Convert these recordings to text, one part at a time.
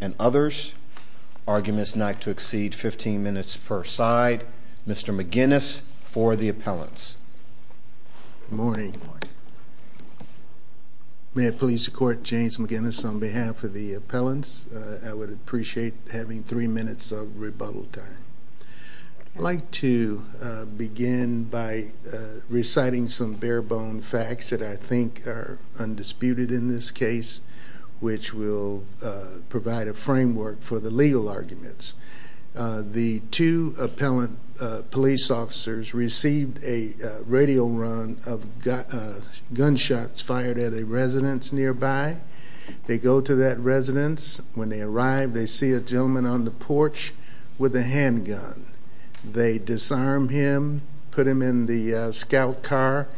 and others. Arguments not to exceed 15 minutes per side. Mr. McGinnis for the appellants. Good morning. May I please record James McGinnis on behalf of the appellants. I would appreciate having three minutes of rebuttal time. I'd like to begin by reciting some bare bone facts that I think are undisputed in this case, which will provide a framework for the legal arguments. The two appellant police officers received a radio run of gunshots fired at a residence nearby. They go to that residence. When they arrive, they see a gentleman on the porch with a handgun. They disarm him, put him in the scout car,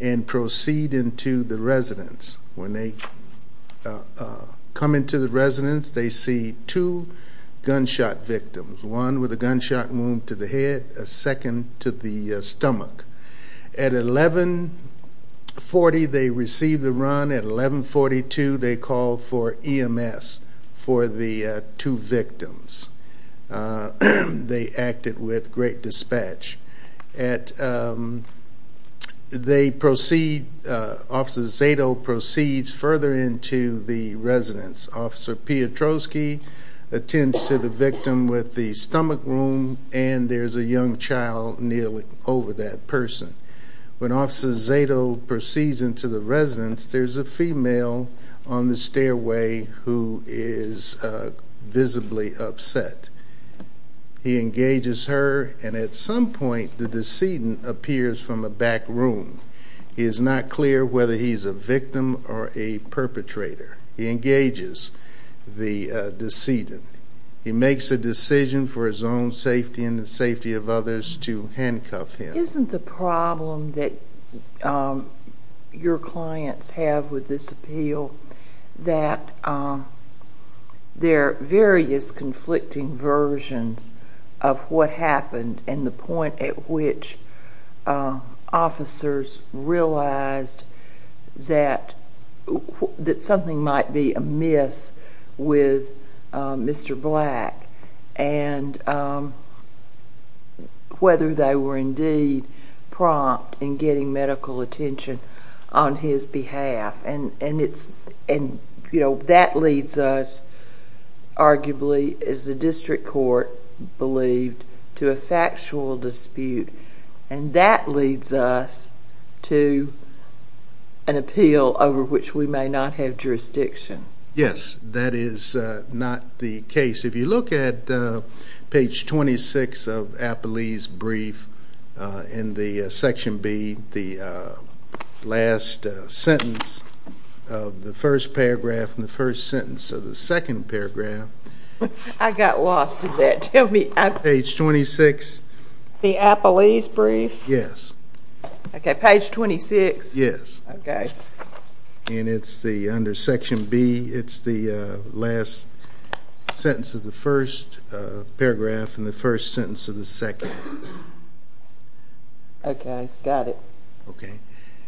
and proceed into the residence. When they come into the residence, they see two gunshot victims. One with a gunshot wound to the head, a second to the stomach. At 11.40, they receive the run. At 11.42, they call for EMS for the two victims. They acted with great dispatch. They proceed, Officer Zato proceeds further into the residence. Officer Piotrowski attends to the victim with the stomach wound, and there's a young child kneeling over that person. When Officer Zato proceeds into the residence, there's a female on the stairway who is visibly upset. He engages her, and at some point, the decedent appears from a back room. It is not clear whether he's a victim or a perpetrator. He engages the decedent. He makes a decision for his own safety and the safety of others to handcuff him. Isn't the problem that your clients have with this appeal that there are various conflicting versions of what happened and the point at which officers realized that something might be amiss with Mr. Black and whether they were indeed prompt in getting medical attention on his behalf? That leads us, leads us to an appeal over which we may not have jurisdiction. Yes, that is not the case. If you look at page 26 of Appalee's brief in the section B, the last sentence of the first paragraph and the first sentence of the second paragraph. I got lost in that. Tell me. Page 26. The Appalee's brief? Yes. Okay, page 26. Yes. Okay. And it's the, under section B, it's the last sentence of the first paragraph and the first sentence of the second. Okay, got it. Okay.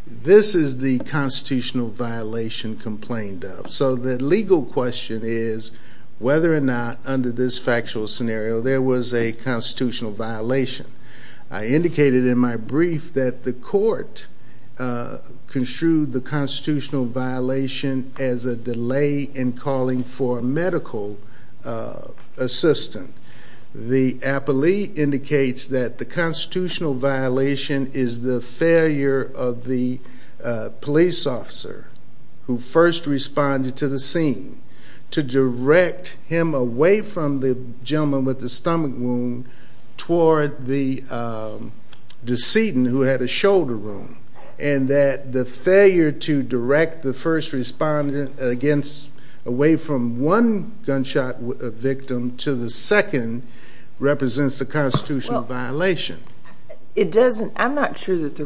This is the constitutional violation complained of. So the legal question is whether or not under this factual scenario there was a constitutional violation. I indicated in my brief that the court construed the constitutional violation as a delay in calling for a medical assistant. The Appalee indicates that the constitutional violation is the failure of the police officer who first responded to the scene to direct him away from the gentleman with the stomach wound toward the decedent who had a shoulder wound. And that the failure to direct the first respondent against, away from one gunshot victim to the second represents a failure. The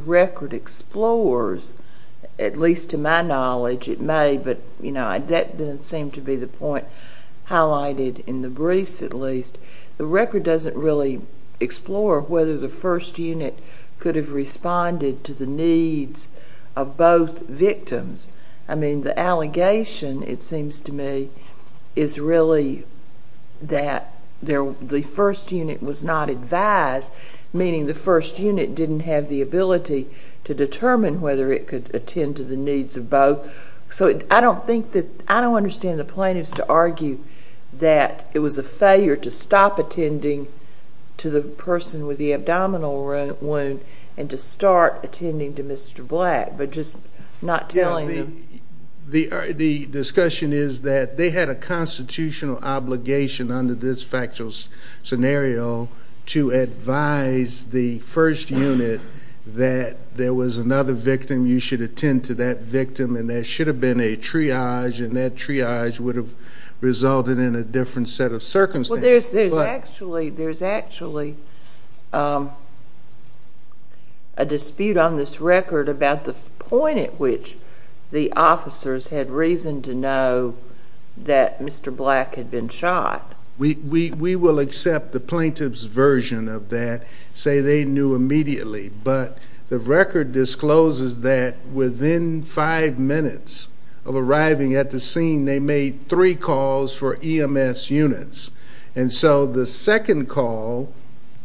record explores, at least to my knowledge, it may, but that didn't seem to be the point highlighted in the briefs at least. The record doesn't really explore whether the first unit could have responded to the needs of both victims. I mean, the allegation, it seems to me, is really that the first unit was not advised, meaning the first unit didn't have the ability determine whether it could attend to the needs of both. So I don't think that, I don't understand the plaintiffs to argue that it was a failure to stop attending to the person with the abdominal wound and to start attending to Mr. Black, but just not telling them. The discussion is that they had a constitutional obligation under this factual scenario to advise the first unit that there was another victim, you should attend to that victim, and there should have been a triage, and that triage would have resulted in a different set of circumstances. There's actually a dispute on this record about the point at which the officers had reason to know that Mr. Black had been shot. We will accept the plaintiff's version of that, say they knew immediately, but the record discloses that within five minutes of arriving at the scene, they made three calls for EMS units, and so the second call,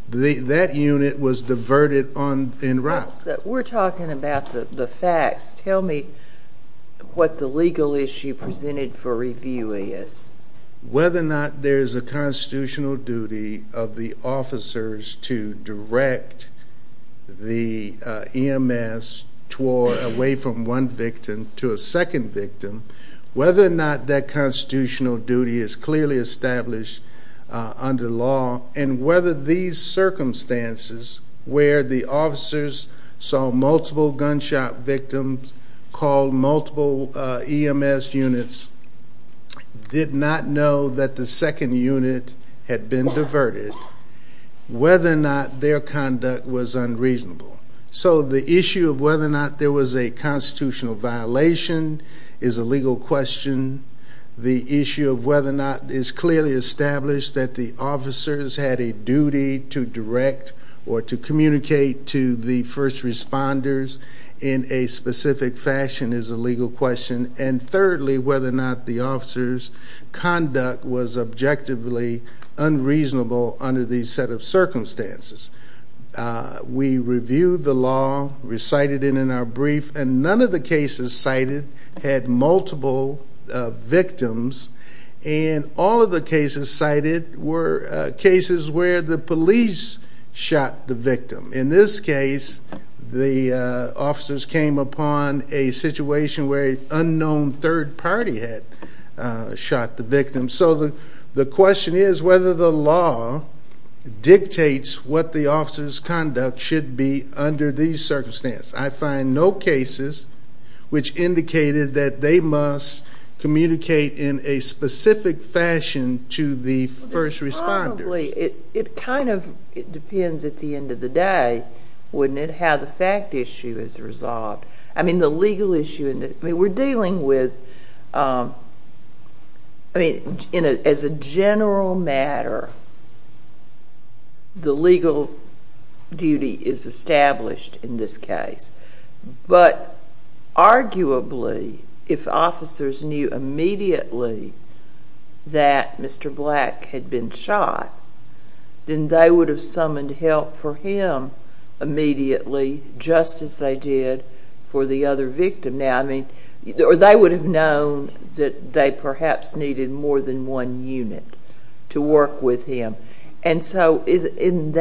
that unit was diverted en route. We're talking about the facts. Tell me what the legal issue presented for review is. Whether or not there is a constitutional duty of the officers to direct the EMS toward, away from one victim to a second victim, whether or not that constitutional duty is clearly established under law, and whether these circumstances where the officers saw multiple gunshot victims, called multiple EMS units, did not know that the second unit had been diverted, whether or not their conduct was unreasonable. So the issue of whether or not there was a constitutional violation is a legal question. The issue of whether or not it's clearly established that the officers had a duty to direct or to communicate to the first responders in a specific fashion is a legal question, and thirdly, whether or not the officers' conduct was objectively unreasonable under these set of circumstances. We reviewed the law, recited it in our brief, and none of the cases cited had multiple victims, and all of the cases cited were cases where the police shot the victim. In this case, the officers came upon a situation where an unknown third party had shot the victim. So the question is whether the law dictates what the officers' conduct should be under these circumstances. I find no cases which indicated that they must communicate in a specific fashion to the first responders. It kind of depends at the end of the day, wouldn't it, how the fact issue is resolved. I mean, the legal issue, we're dealing with, I mean, as a general matter, the legal duty is established in this case, but arguably, if officers knew immediately that Mr. Black had been shot, then they would have summoned help for him immediately, just as they did for the other victim. Now, I mean, or they would have known that they perhaps needed more than one unit to work with him, and so isn't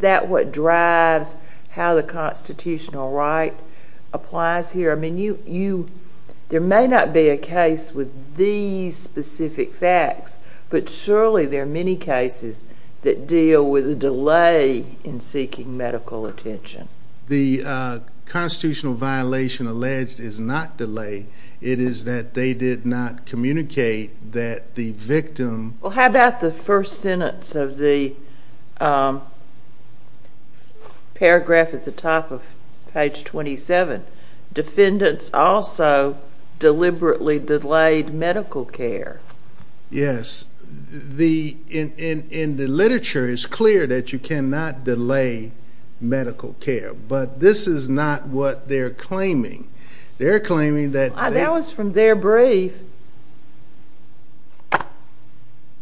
that what drives how the constitutional right applies here? I mean, there may not be a case with these specific facts, but surely there are many cases that deal with a delay in seeking medical attention. The constitutional violation alleged is not delay. It is that they did not communicate that the victim... Well, how about the first sentence of the paragraph at the top of page 27? Defendants also deliberately delayed medical care. Yes. In the literature, it's clear that you cannot delay medical care, but this is not what they're claiming. They're claiming that... That was from their brief.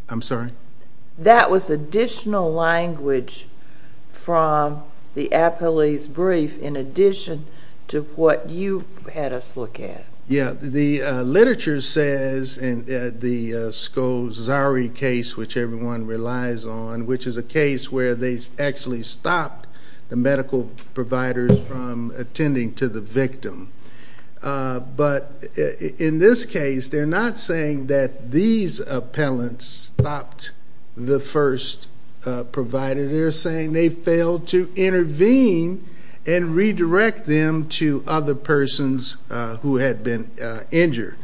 I'm sorry? That was additional language from the appellee's brief in addition to what you had us look at. Yeah. The literature says in the Scosari case, which everyone relies on, which is a case where they actually stopped the medical providers from attending to the victim. But in this case, they're not saying that these appellants stopped the first provider. They're saying they failed to intervene and redirect them to other persons who had been injured.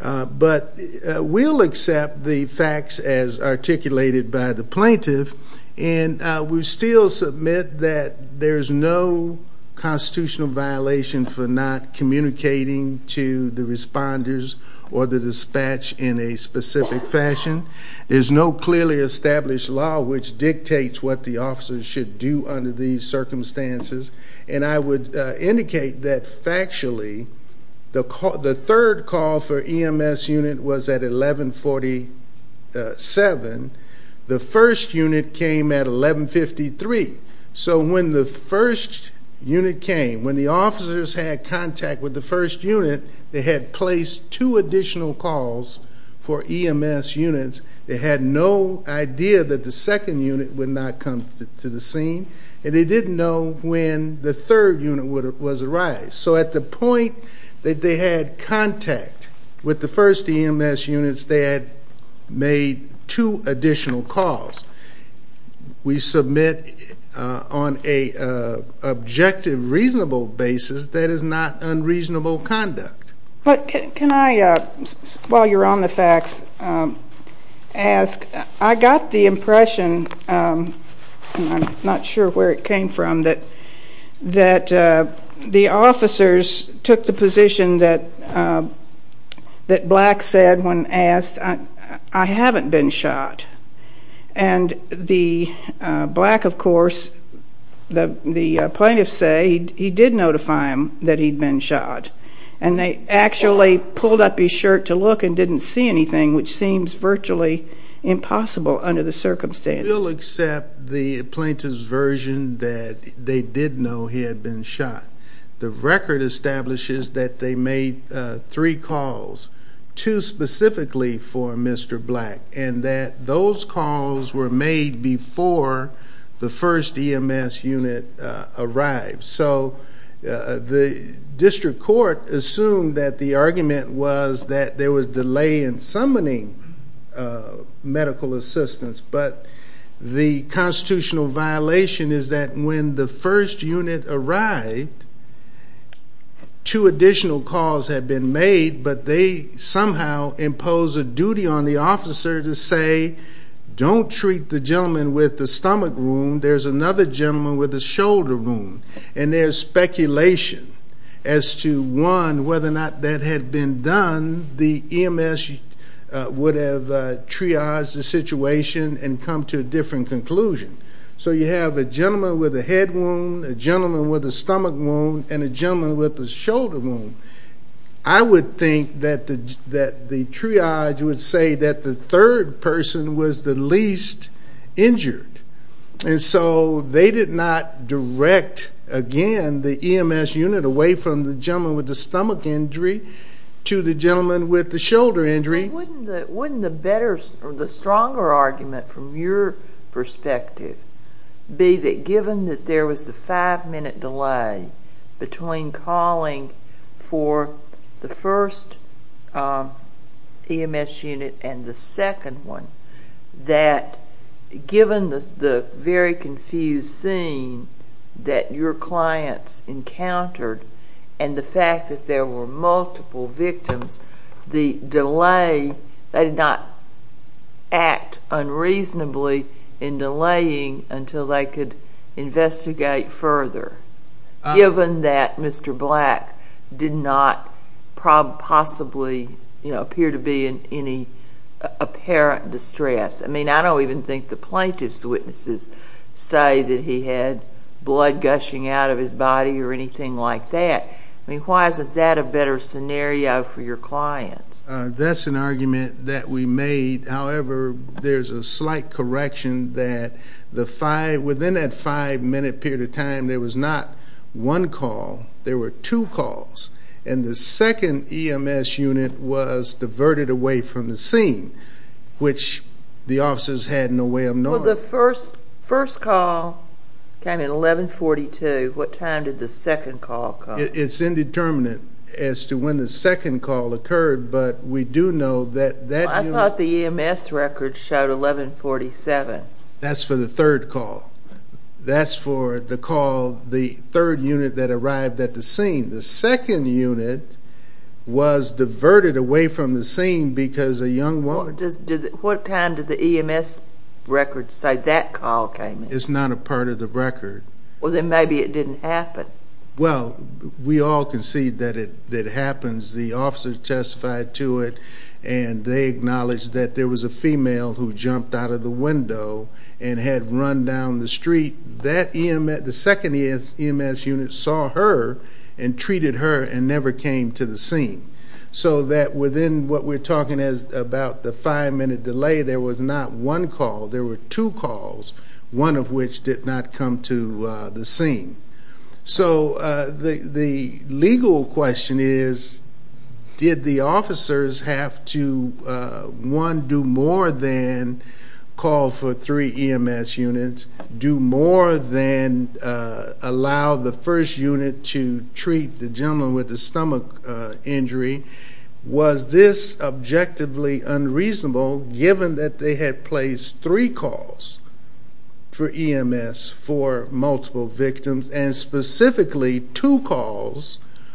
But we'll accept the facts as articulated by the plaintiff, and we still submit that there's no constitutional violation for not communicating to the responders or the dispatch in a specific fashion. There's no clearly established law which dictates what the officers should do under these circumstances. When the first call for EMS unit was at 1147, the first unit came at 1153. So when the first unit came, when the officers had contact with the first unit, they had placed two additional calls for EMS units. They had no idea that the second unit would not come to the scene, and they didn't know when the third unit was arrived. So at the point that they had contact with the first EMS units, they had made two additional calls. We submit on a objective, reasonable basis that is not unreasonable conduct. But can I, while you're on the facts, ask, I got the impression, and I'm not sure where it came from, that the officers took the position that Black said when asked, I haven't been shot. And the, Black of course, the plaintiffs say he did notify him that he'd been shot. And they actually pulled up his shirt to look and didn't see anything, which seems virtually impossible under the circumstances. We'll accept the plaintiff's version that they did know he had been shot. The record establishes that they made three calls, two specifically for Mr. Black, and that those calls were made before the first EMS unit arrived. So the district court assumed that the argument was that there was delay in summoning medical assistance. But the constitutional violation is that when the first unit arrived, two additional calls had been made, but they somehow impose a duty on the officer to say, don't treat the gentleman with the stomach wound, there's another gentleman with shoulder wound. And there's speculation as to one, whether or not that had been done, the EMS would have triaged the situation and come to a different conclusion. So you have a gentleman with a head wound, a gentleman with a stomach wound, and a gentleman with a shoulder wound. I would think that the triage would say that the third person was the least injured. And so they did not direct, again, the EMS unit away from the gentleman with the stomach injury to the gentleman with the shoulder injury. Wouldn't the stronger argument from your perspective be that given that there was a five-minute delay between calling for the first EMS unit and the second one, that given the very confused scene that your clients encountered and the fact that there were multiple victims, the delay, they did not act unreasonably in delaying until they could investigate further, given that Mr. Black did not possibly appear to be in any apparent distress? I mean, I don't even think the plaintiff's witnesses say that he had blood gushing out of his body or anything like that. I mean, why isn't that a better scenario for your clients? That's an argument that we made. However, there's a slight correction that within that five-minute period of time, there was not one call, there were two calls. And the second EMS unit was diverted away from the scene, which the officers had no way of knowing. Well, the first call came in 11-42. What time did the second call come? It's indeterminate as to when the second call occurred, but we do know that that unit- Well, I thought the EMS record showed 11-47. That's for the third call. That's for the call, the third unit that arrived at the scene. The second unit was diverted away from the scene because a young woman- What time did the EMS record say that call came in? It's not a part of the record. Well, then maybe it didn't happen. Well, we all concede that it happens. The officers testified to it, and they acknowledged that there jumped out of the window and had run down the street. The second EMS unit saw her and treated her and never came to the scene. So that within what we're talking as about the five-minute delay, there was not one call, there were two calls, one of which did not come to the scene. So the legal question is, did the officers have to, one, do more than call for three EMS units, do more than allow the first unit to treat the gentleman with the stomach injury? Was this specifically two calls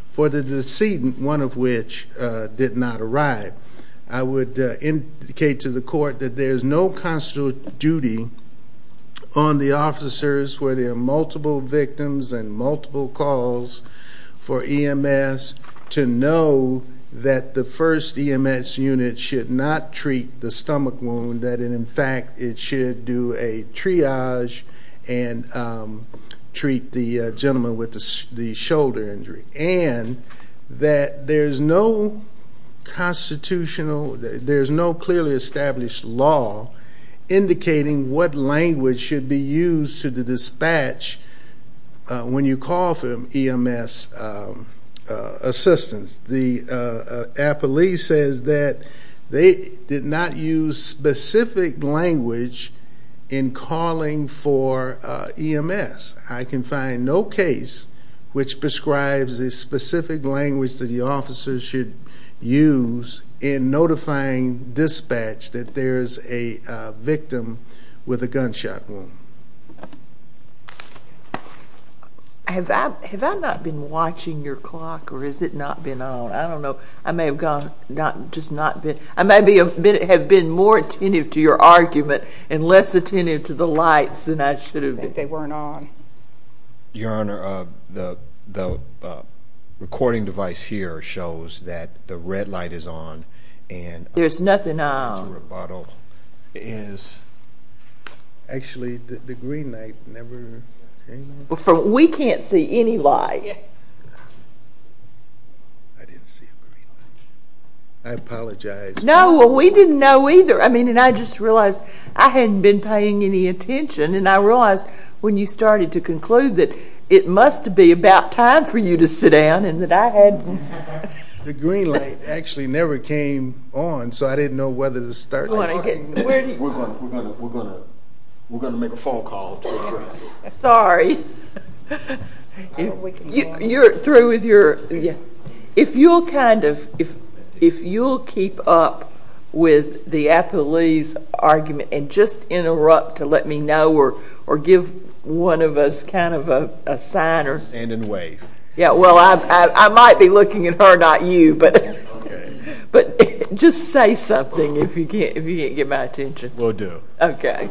for the decedent, one of which did not arrive? I would indicate to the court that there's no constitutional duty on the officers where there are multiple victims and multiple calls for EMS to know that the first EMS unit should not treat the stomach wound, that in fact it should do a triage and treat the gentleman with the shoulder injury. And that there's no clearly established law indicating what language should be used to the dispatch when you call for EMS assistance. The appellee says that they did not use specific language in calling for EMS. I can find no case which prescribes a specific language that the officers should use in notifying dispatch that there's a victim with a gunshot wound. Have I not been watching your clock, or has it not been on? I don't know. I may have just not been. I may have been more attentive to your argument and less attentive to the lights than I should have been. They weren't on. Your Honor, the recording device here shows that the red is on. There's nothing on. Actually, the green light never came on. We can't see any light. I didn't see a green light. I apologize. No, we didn't know either. I mean, and I just realized I hadn't been paying any attention. And I realized when you started to conclude that it must be about time for you to sit down and that I hadn't. The green light actually never came on, so I didn't know whether to start talking or not. We're going to make a phone call to address it. Sorry. If you'll keep up with the appellee's argument and just interrupt to let me know or give one of us kind of a sign or... Stand and wave. Yeah, well, I might be looking at her, not you, but just say something if you can't get my attention. Will do. Okay.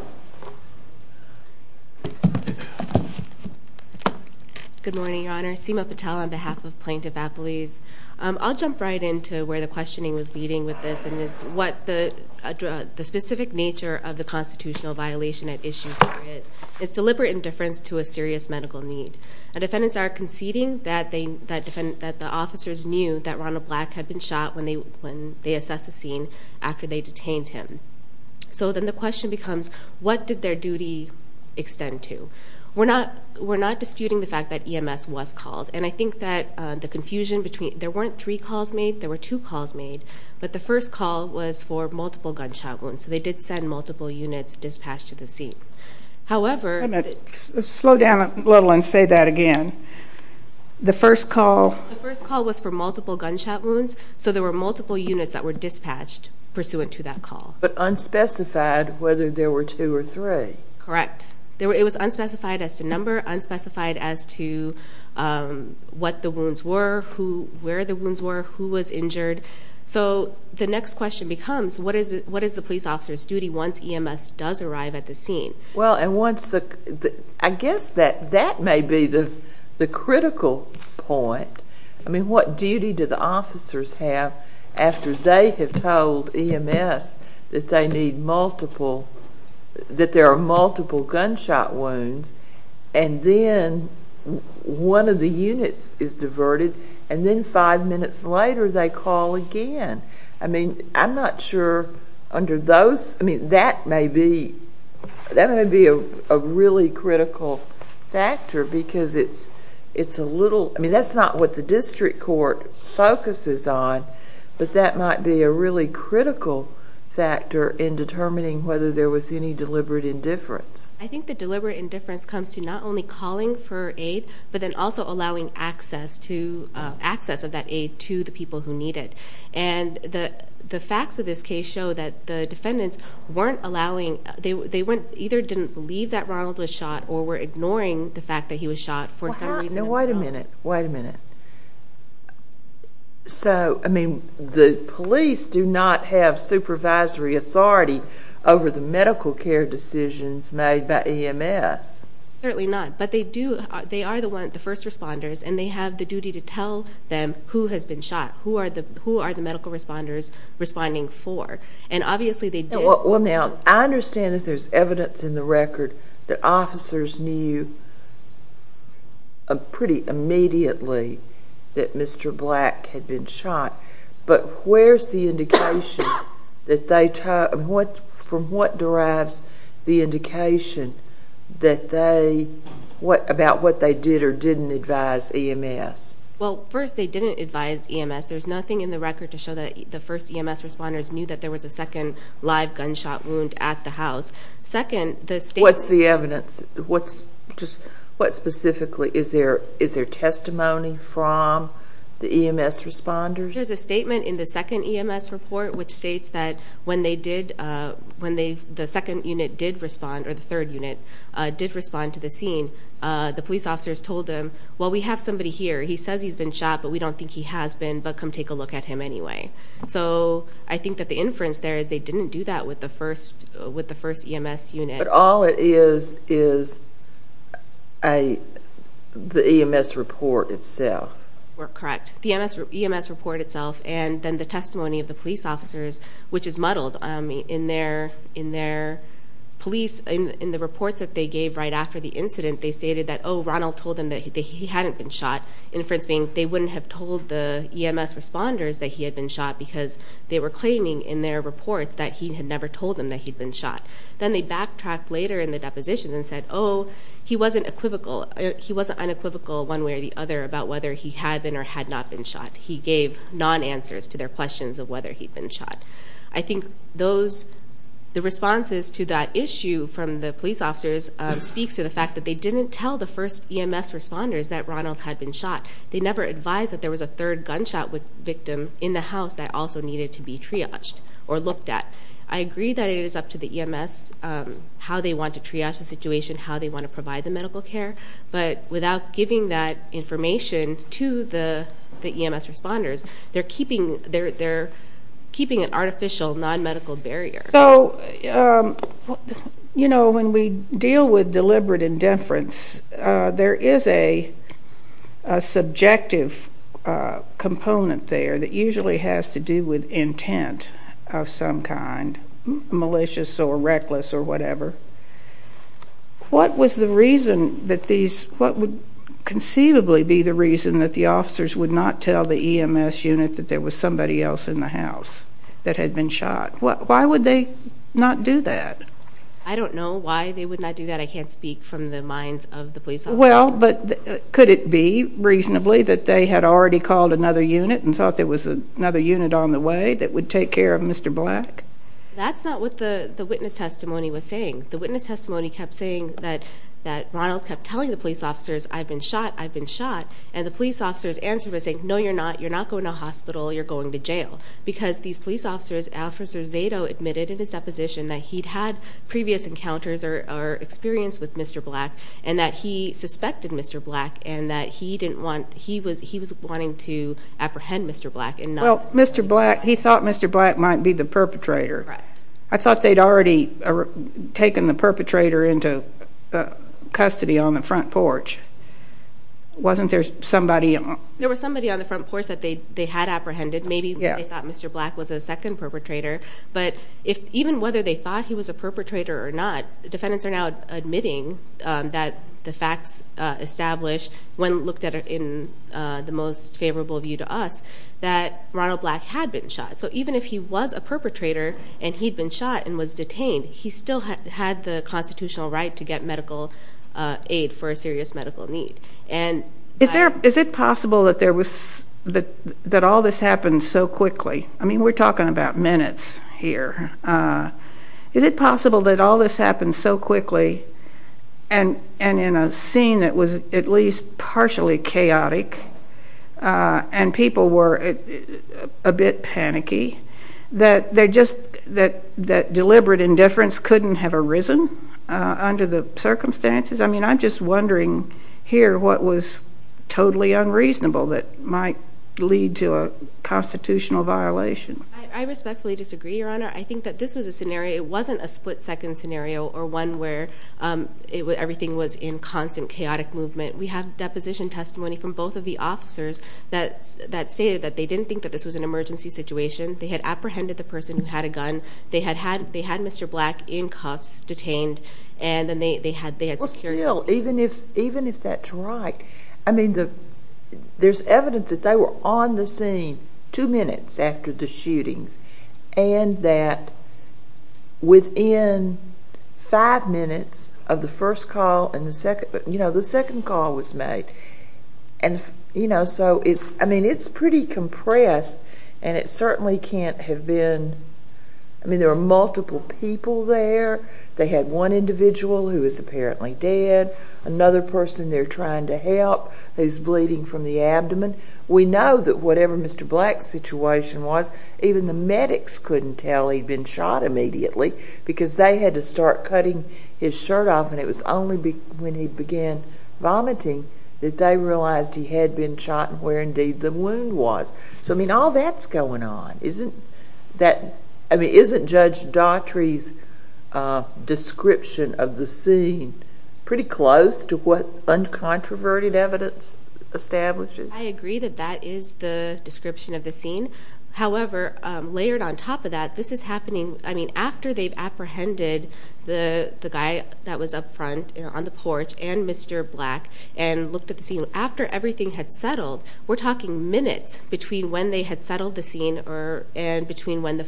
Good morning, Your Honor. Seema Patel on behalf of Plaintiff Appellees. I'll jump right into where the questioning was leading with this and is what the specific nature of the deliberate indifference to a serious medical need. Defendants are conceding that the officers knew that Ronald Black had been shot when they assessed the scene after they detained him. So then the question becomes, what did their duty extend to? We're not disputing the fact that EMS was called. And I think that the confusion between... There weren't three calls made, there were two calls made, but the first call was for multiple gunshot wounds. So they did multiple units dispatched to the scene. However... Slow down a little and say that again. The first call... The first call was for multiple gunshot wounds. So there were multiple units that were dispatched pursuant to that call. But unspecified whether there were two or three. Correct. It was unspecified as to number, unspecified as to what the wounds were, where the wounds were, who was injured. So the next question becomes, what is the police officer's duty once EMS does arrive at the scene? Well, and once... I guess that that may be the critical point. I mean, what duty do the officers have after they have told EMS that they need multiple... That there are multiple gunshot wounds and then one of the units is diverted and then five minutes later they call again? I mean, I'm not sure under those... I mean, that may be a really critical factor because it's a little... I mean, that's not what the district court focuses on, but that might be a really critical factor in determining whether there was any deliberate indifference. I think the deliberate indifference comes to not only calling for aid, but then also allowing access to... Access of that aid to the people who need it. And the facts of this case show that the defendants weren't allowing... They either didn't believe that Ronald was shot or were ignoring the fact that he was shot for some reason. Now, wait a minute. Wait a minute. So, I mean, the police do not have supervisory authority over the medical care decisions made by EMS. Certainly not, but they do. They are the first responders and they have the duty to tell them who has been shot. Who are the medical responders responding for? And obviously, they do. Well, now, I understand that there's evidence in the record that officers knew pretty immediately that Mr. Black had been shot, but where's the indication that they... From what derives the indication that they... About what they did or didn't advise EMS? Well, first, they didn't advise EMS. There's nothing in the record to show that the first EMS responders knew that there was a second live gunshot wound at the house. Second, the state... What's the evidence? What specifically... Is there testimony from the EMS responders? There's a statement in the second EMS report, which states that when the second unit did respond or the third unit did respond to the scene, the police officers told them, well, we have somebody here. He says he's been shot, but we don't think he has been, but come take a look at him anyway. So, I think that the inference there is they didn't do that with the first EMS unit. But all it is is the EMS report itself. We're correct. The EMS report itself and then the testimony of the police officers, which is muddled in their police... In the reports that they gave right after the incident, they stated that, oh, Ronald told them that he hadn't been shot. Inference being, they wouldn't have told the EMS responders that he had been shot because they were claiming in their reports that he had never told them that he'd been shot. Then they backtracked later in the deposition and said, oh, he wasn't unequivocal one way or the other about whether he had been or had not been shot. He gave non-answers to their questions of whether he'd been shot. I think the responses to that issue from the police officers speaks to the fact that they didn't tell the first EMS responders that Ronald had been shot. They never advised that there was a third gunshot victim in the house that also needed to be triaged or looked at. I agree that it is up to the EMS how they want to triage the situation, how they want to provide the medical care, but without giving that information to the EMS responders, they're keeping an artificial non-medical barrier. When we deal with deliberate indifference, there is a subjective component there that usually has to do with intent of some kind, malicious or reckless or whatever. What was the reason that these, what would conceivably be the reason that the officers would not tell the EMS unit that there was somebody else in the house that had been shot? Why would they not do that? I don't know why they would not do that. I can't speak from the minds of the police. Well, but could it be reasonably that they had already called another unit and thought there was another unit on the way that would take care of Mr. Black? That's not what the witness testimony was saying. The witness testimony kept saying that Ronald kept telling the police officers, I've been shot, I've been shot. And the police officers answered by saying, no, you're not. You're not going to a hospital. You're going to jail. Because these police officers, Officer Zato admitted in his deposition that he'd had previous encounters or experience with Mr. Black and that he suspected Mr. Black and that he was wanting to apprehend Mr. Black. Well, Mr. Black, he thought Mr. Black might be the perpetrator. I thought they'd already taken the perpetrator into custody on the front porch. Wasn't there somebody? There was somebody on the front porch that they had apprehended. Maybe they thought Mr. Black was a second perpetrator. But even whether they thought he was a perpetrator or not, the defendants are now that the facts establish, when looked at in the most favorable view to us, that Ronald Black had been shot. So even if he was a perpetrator, and he'd been shot and was detained, he still had the constitutional right to get medical aid for a serious medical need. Is it possible that all this happened so quickly? I mean, we're talking about minutes here. Is it possible that all this happened so quickly and in a scene that was at least partially chaotic, and people were a bit panicky, that deliberate indifference couldn't have arisen under the circumstances? I mean, I'm just wondering here what was the scenario? I think that this was a scenario. It wasn't a split-second scenario or one where everything was in constant chaotic movement. We have deposition testimony from both of the officers that say that they didn't think that this was an emergency situation. They had apprehended the person who had a gun. They had Mr. Black in cuffs, detained, and then they had security. Well, still, even if that's right, I mean, there's evidence that they were on the scene two minutes after the shootings, and that within five minutes of the first call and the second, you know, the second call was made. And, you know, so it's, I mean, it's pretty compressed, and it certainly can't have been. I mean, there were multiple people there. They had one individual who was apparently dead, another person there trying to help who's bleeding from the abdomen. We know that whatever Mr. Black's situation was, even the medics couldn't tell he'd been shot immediately because they had to start cutting his shirt off, and it was only when he began vomiting that they realized he had been shot and where, indeed, the wound was. So, I mean, all that's going on. Isn't that, I mean, isn't Judge Daughtry's description of the scene pretty close to what uncontroverted evidence establishes? I agree that that is the description of the scene. However, layered on top of that, this is happening, I mean, after they've apprehended the guy that was up front on the porch and Mr. Black and looked at the scene. After everything had settled, we're talking minutes between when they had settled the scene and between when the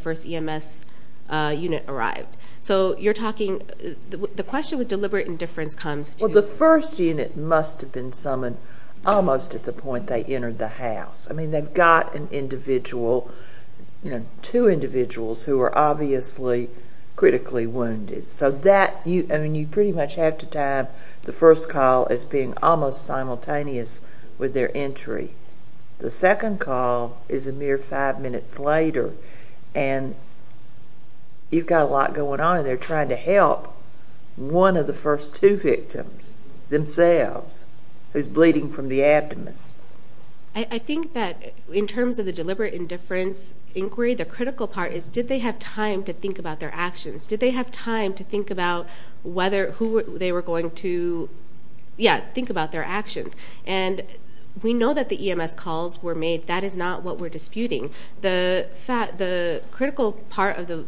question with deliberate indifference comes to... Well, the first unit must have been summoned almost at the point they entered the house. I mean, they've got an individual, you know, two individuals who are obviously critically wounded. So that, I mean, you pretty much have to time the first call as being almost simultaneous with their entry. The second call is a mere five minutes later and you've got a lot going on and they're trying to help one of the first two victims themselves who's bleeding from the abdomen. I think that in terms of the deliberate indifference inquiry, the critical part is did they have time to think about their actions? Did they have time to think about whether who they were going to, yeah, think about their actions? And we know that the EMS calls were made. That is not what we're disputing. The critical part of the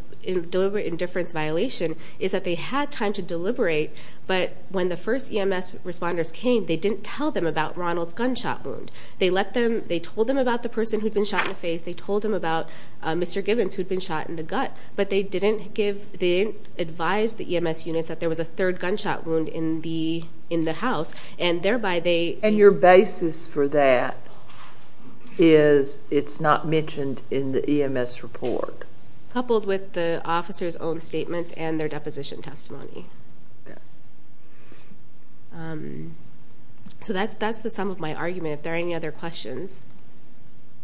deliberate indifference violation is that they had time to deliberate, but when the first EMS responders came, they didn't tell them about Ronald's gunshot wound. They let them, they told them about the person who'd been shot in the face. They told them about Mr. Gibbons who'd been shot in the gut, but they didn't give, they didn't advise the EMS units that there was a third gunshot wound in the house and thereby they... And your basis for that is it's not mentioned in the EMS report? Coupled with the officer's own statements and their deposition testimony. So that's, that's the sum of my argument. If there are any other questions,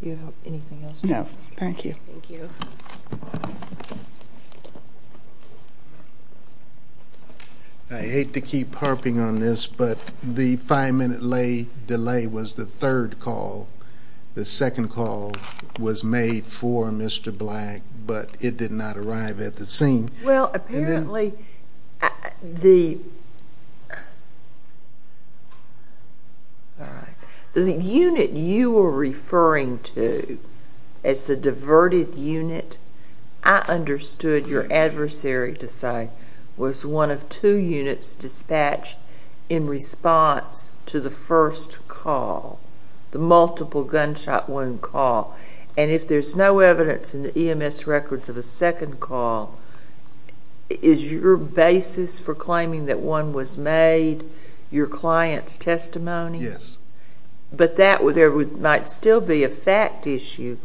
you have anything else? No, thank you. Thank you. I hate to keep harping on this, but the five-minute delay was the third call. The second call was made for Mr. Black, but it did not arrive at the scene. Well, apparently the... All right. The unit you were referring to as the diverted unit, I understood your adversary to say was one of two units dispatched in response to the first call, the multiple gunshot wound call. And if there's no evidence in the EMS records of a second call, is your basis for claiming that one was made, your client's testimony? Yes. But that would, there would, might still be a fact issue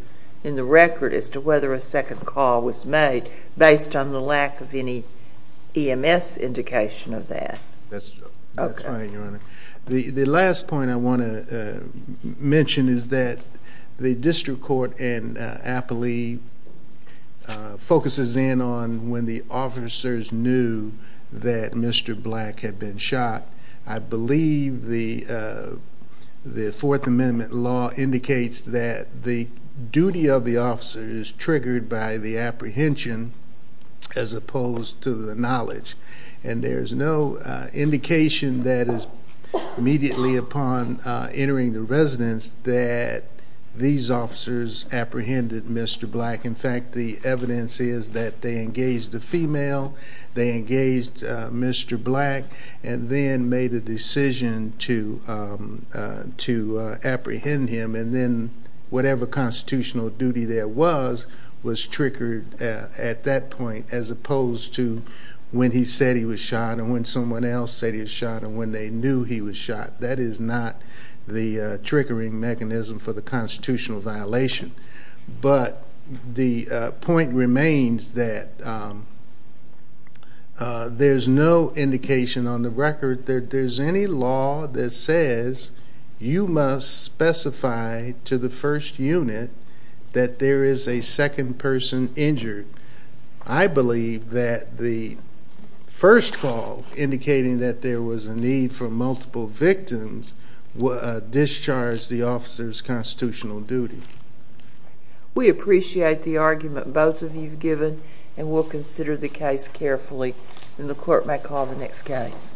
in the record as to whether a second call was made based on the lack of any EMS indication of that? That's right, Your Honor. The last point I want to mention is that the district court and Appley focuses in on when the officers knew that Mr. Black had been shot. I believe the Fourth Amendment law indicates that the duty of the officer is triggered by the apprehension as opposed to the knowledge. And there's no indication that is immediately upon entering the residence that these officers apprehended Mr. Black. In fact, the evidence is that they engaged the female, they engaged Mr. Black, and then made a decision to apprehend him. And then whatever constitutional duty there was, was triggered at that point as opposed to when he said he was shot, and when someone else said he was shot, and when they knew he was shot. That is not the triggering mechanism for the constitutional violation. But the point remains that there's no indication on the record that there's any law that says you must specify to the first unit that there is a second person injured. I believe that the first call indicating that there was a need for multiple victims discharged the officer's constitutional duty. We appreciate the argument both of you've given, and we'll consider the case carefully, and the court may call the next case.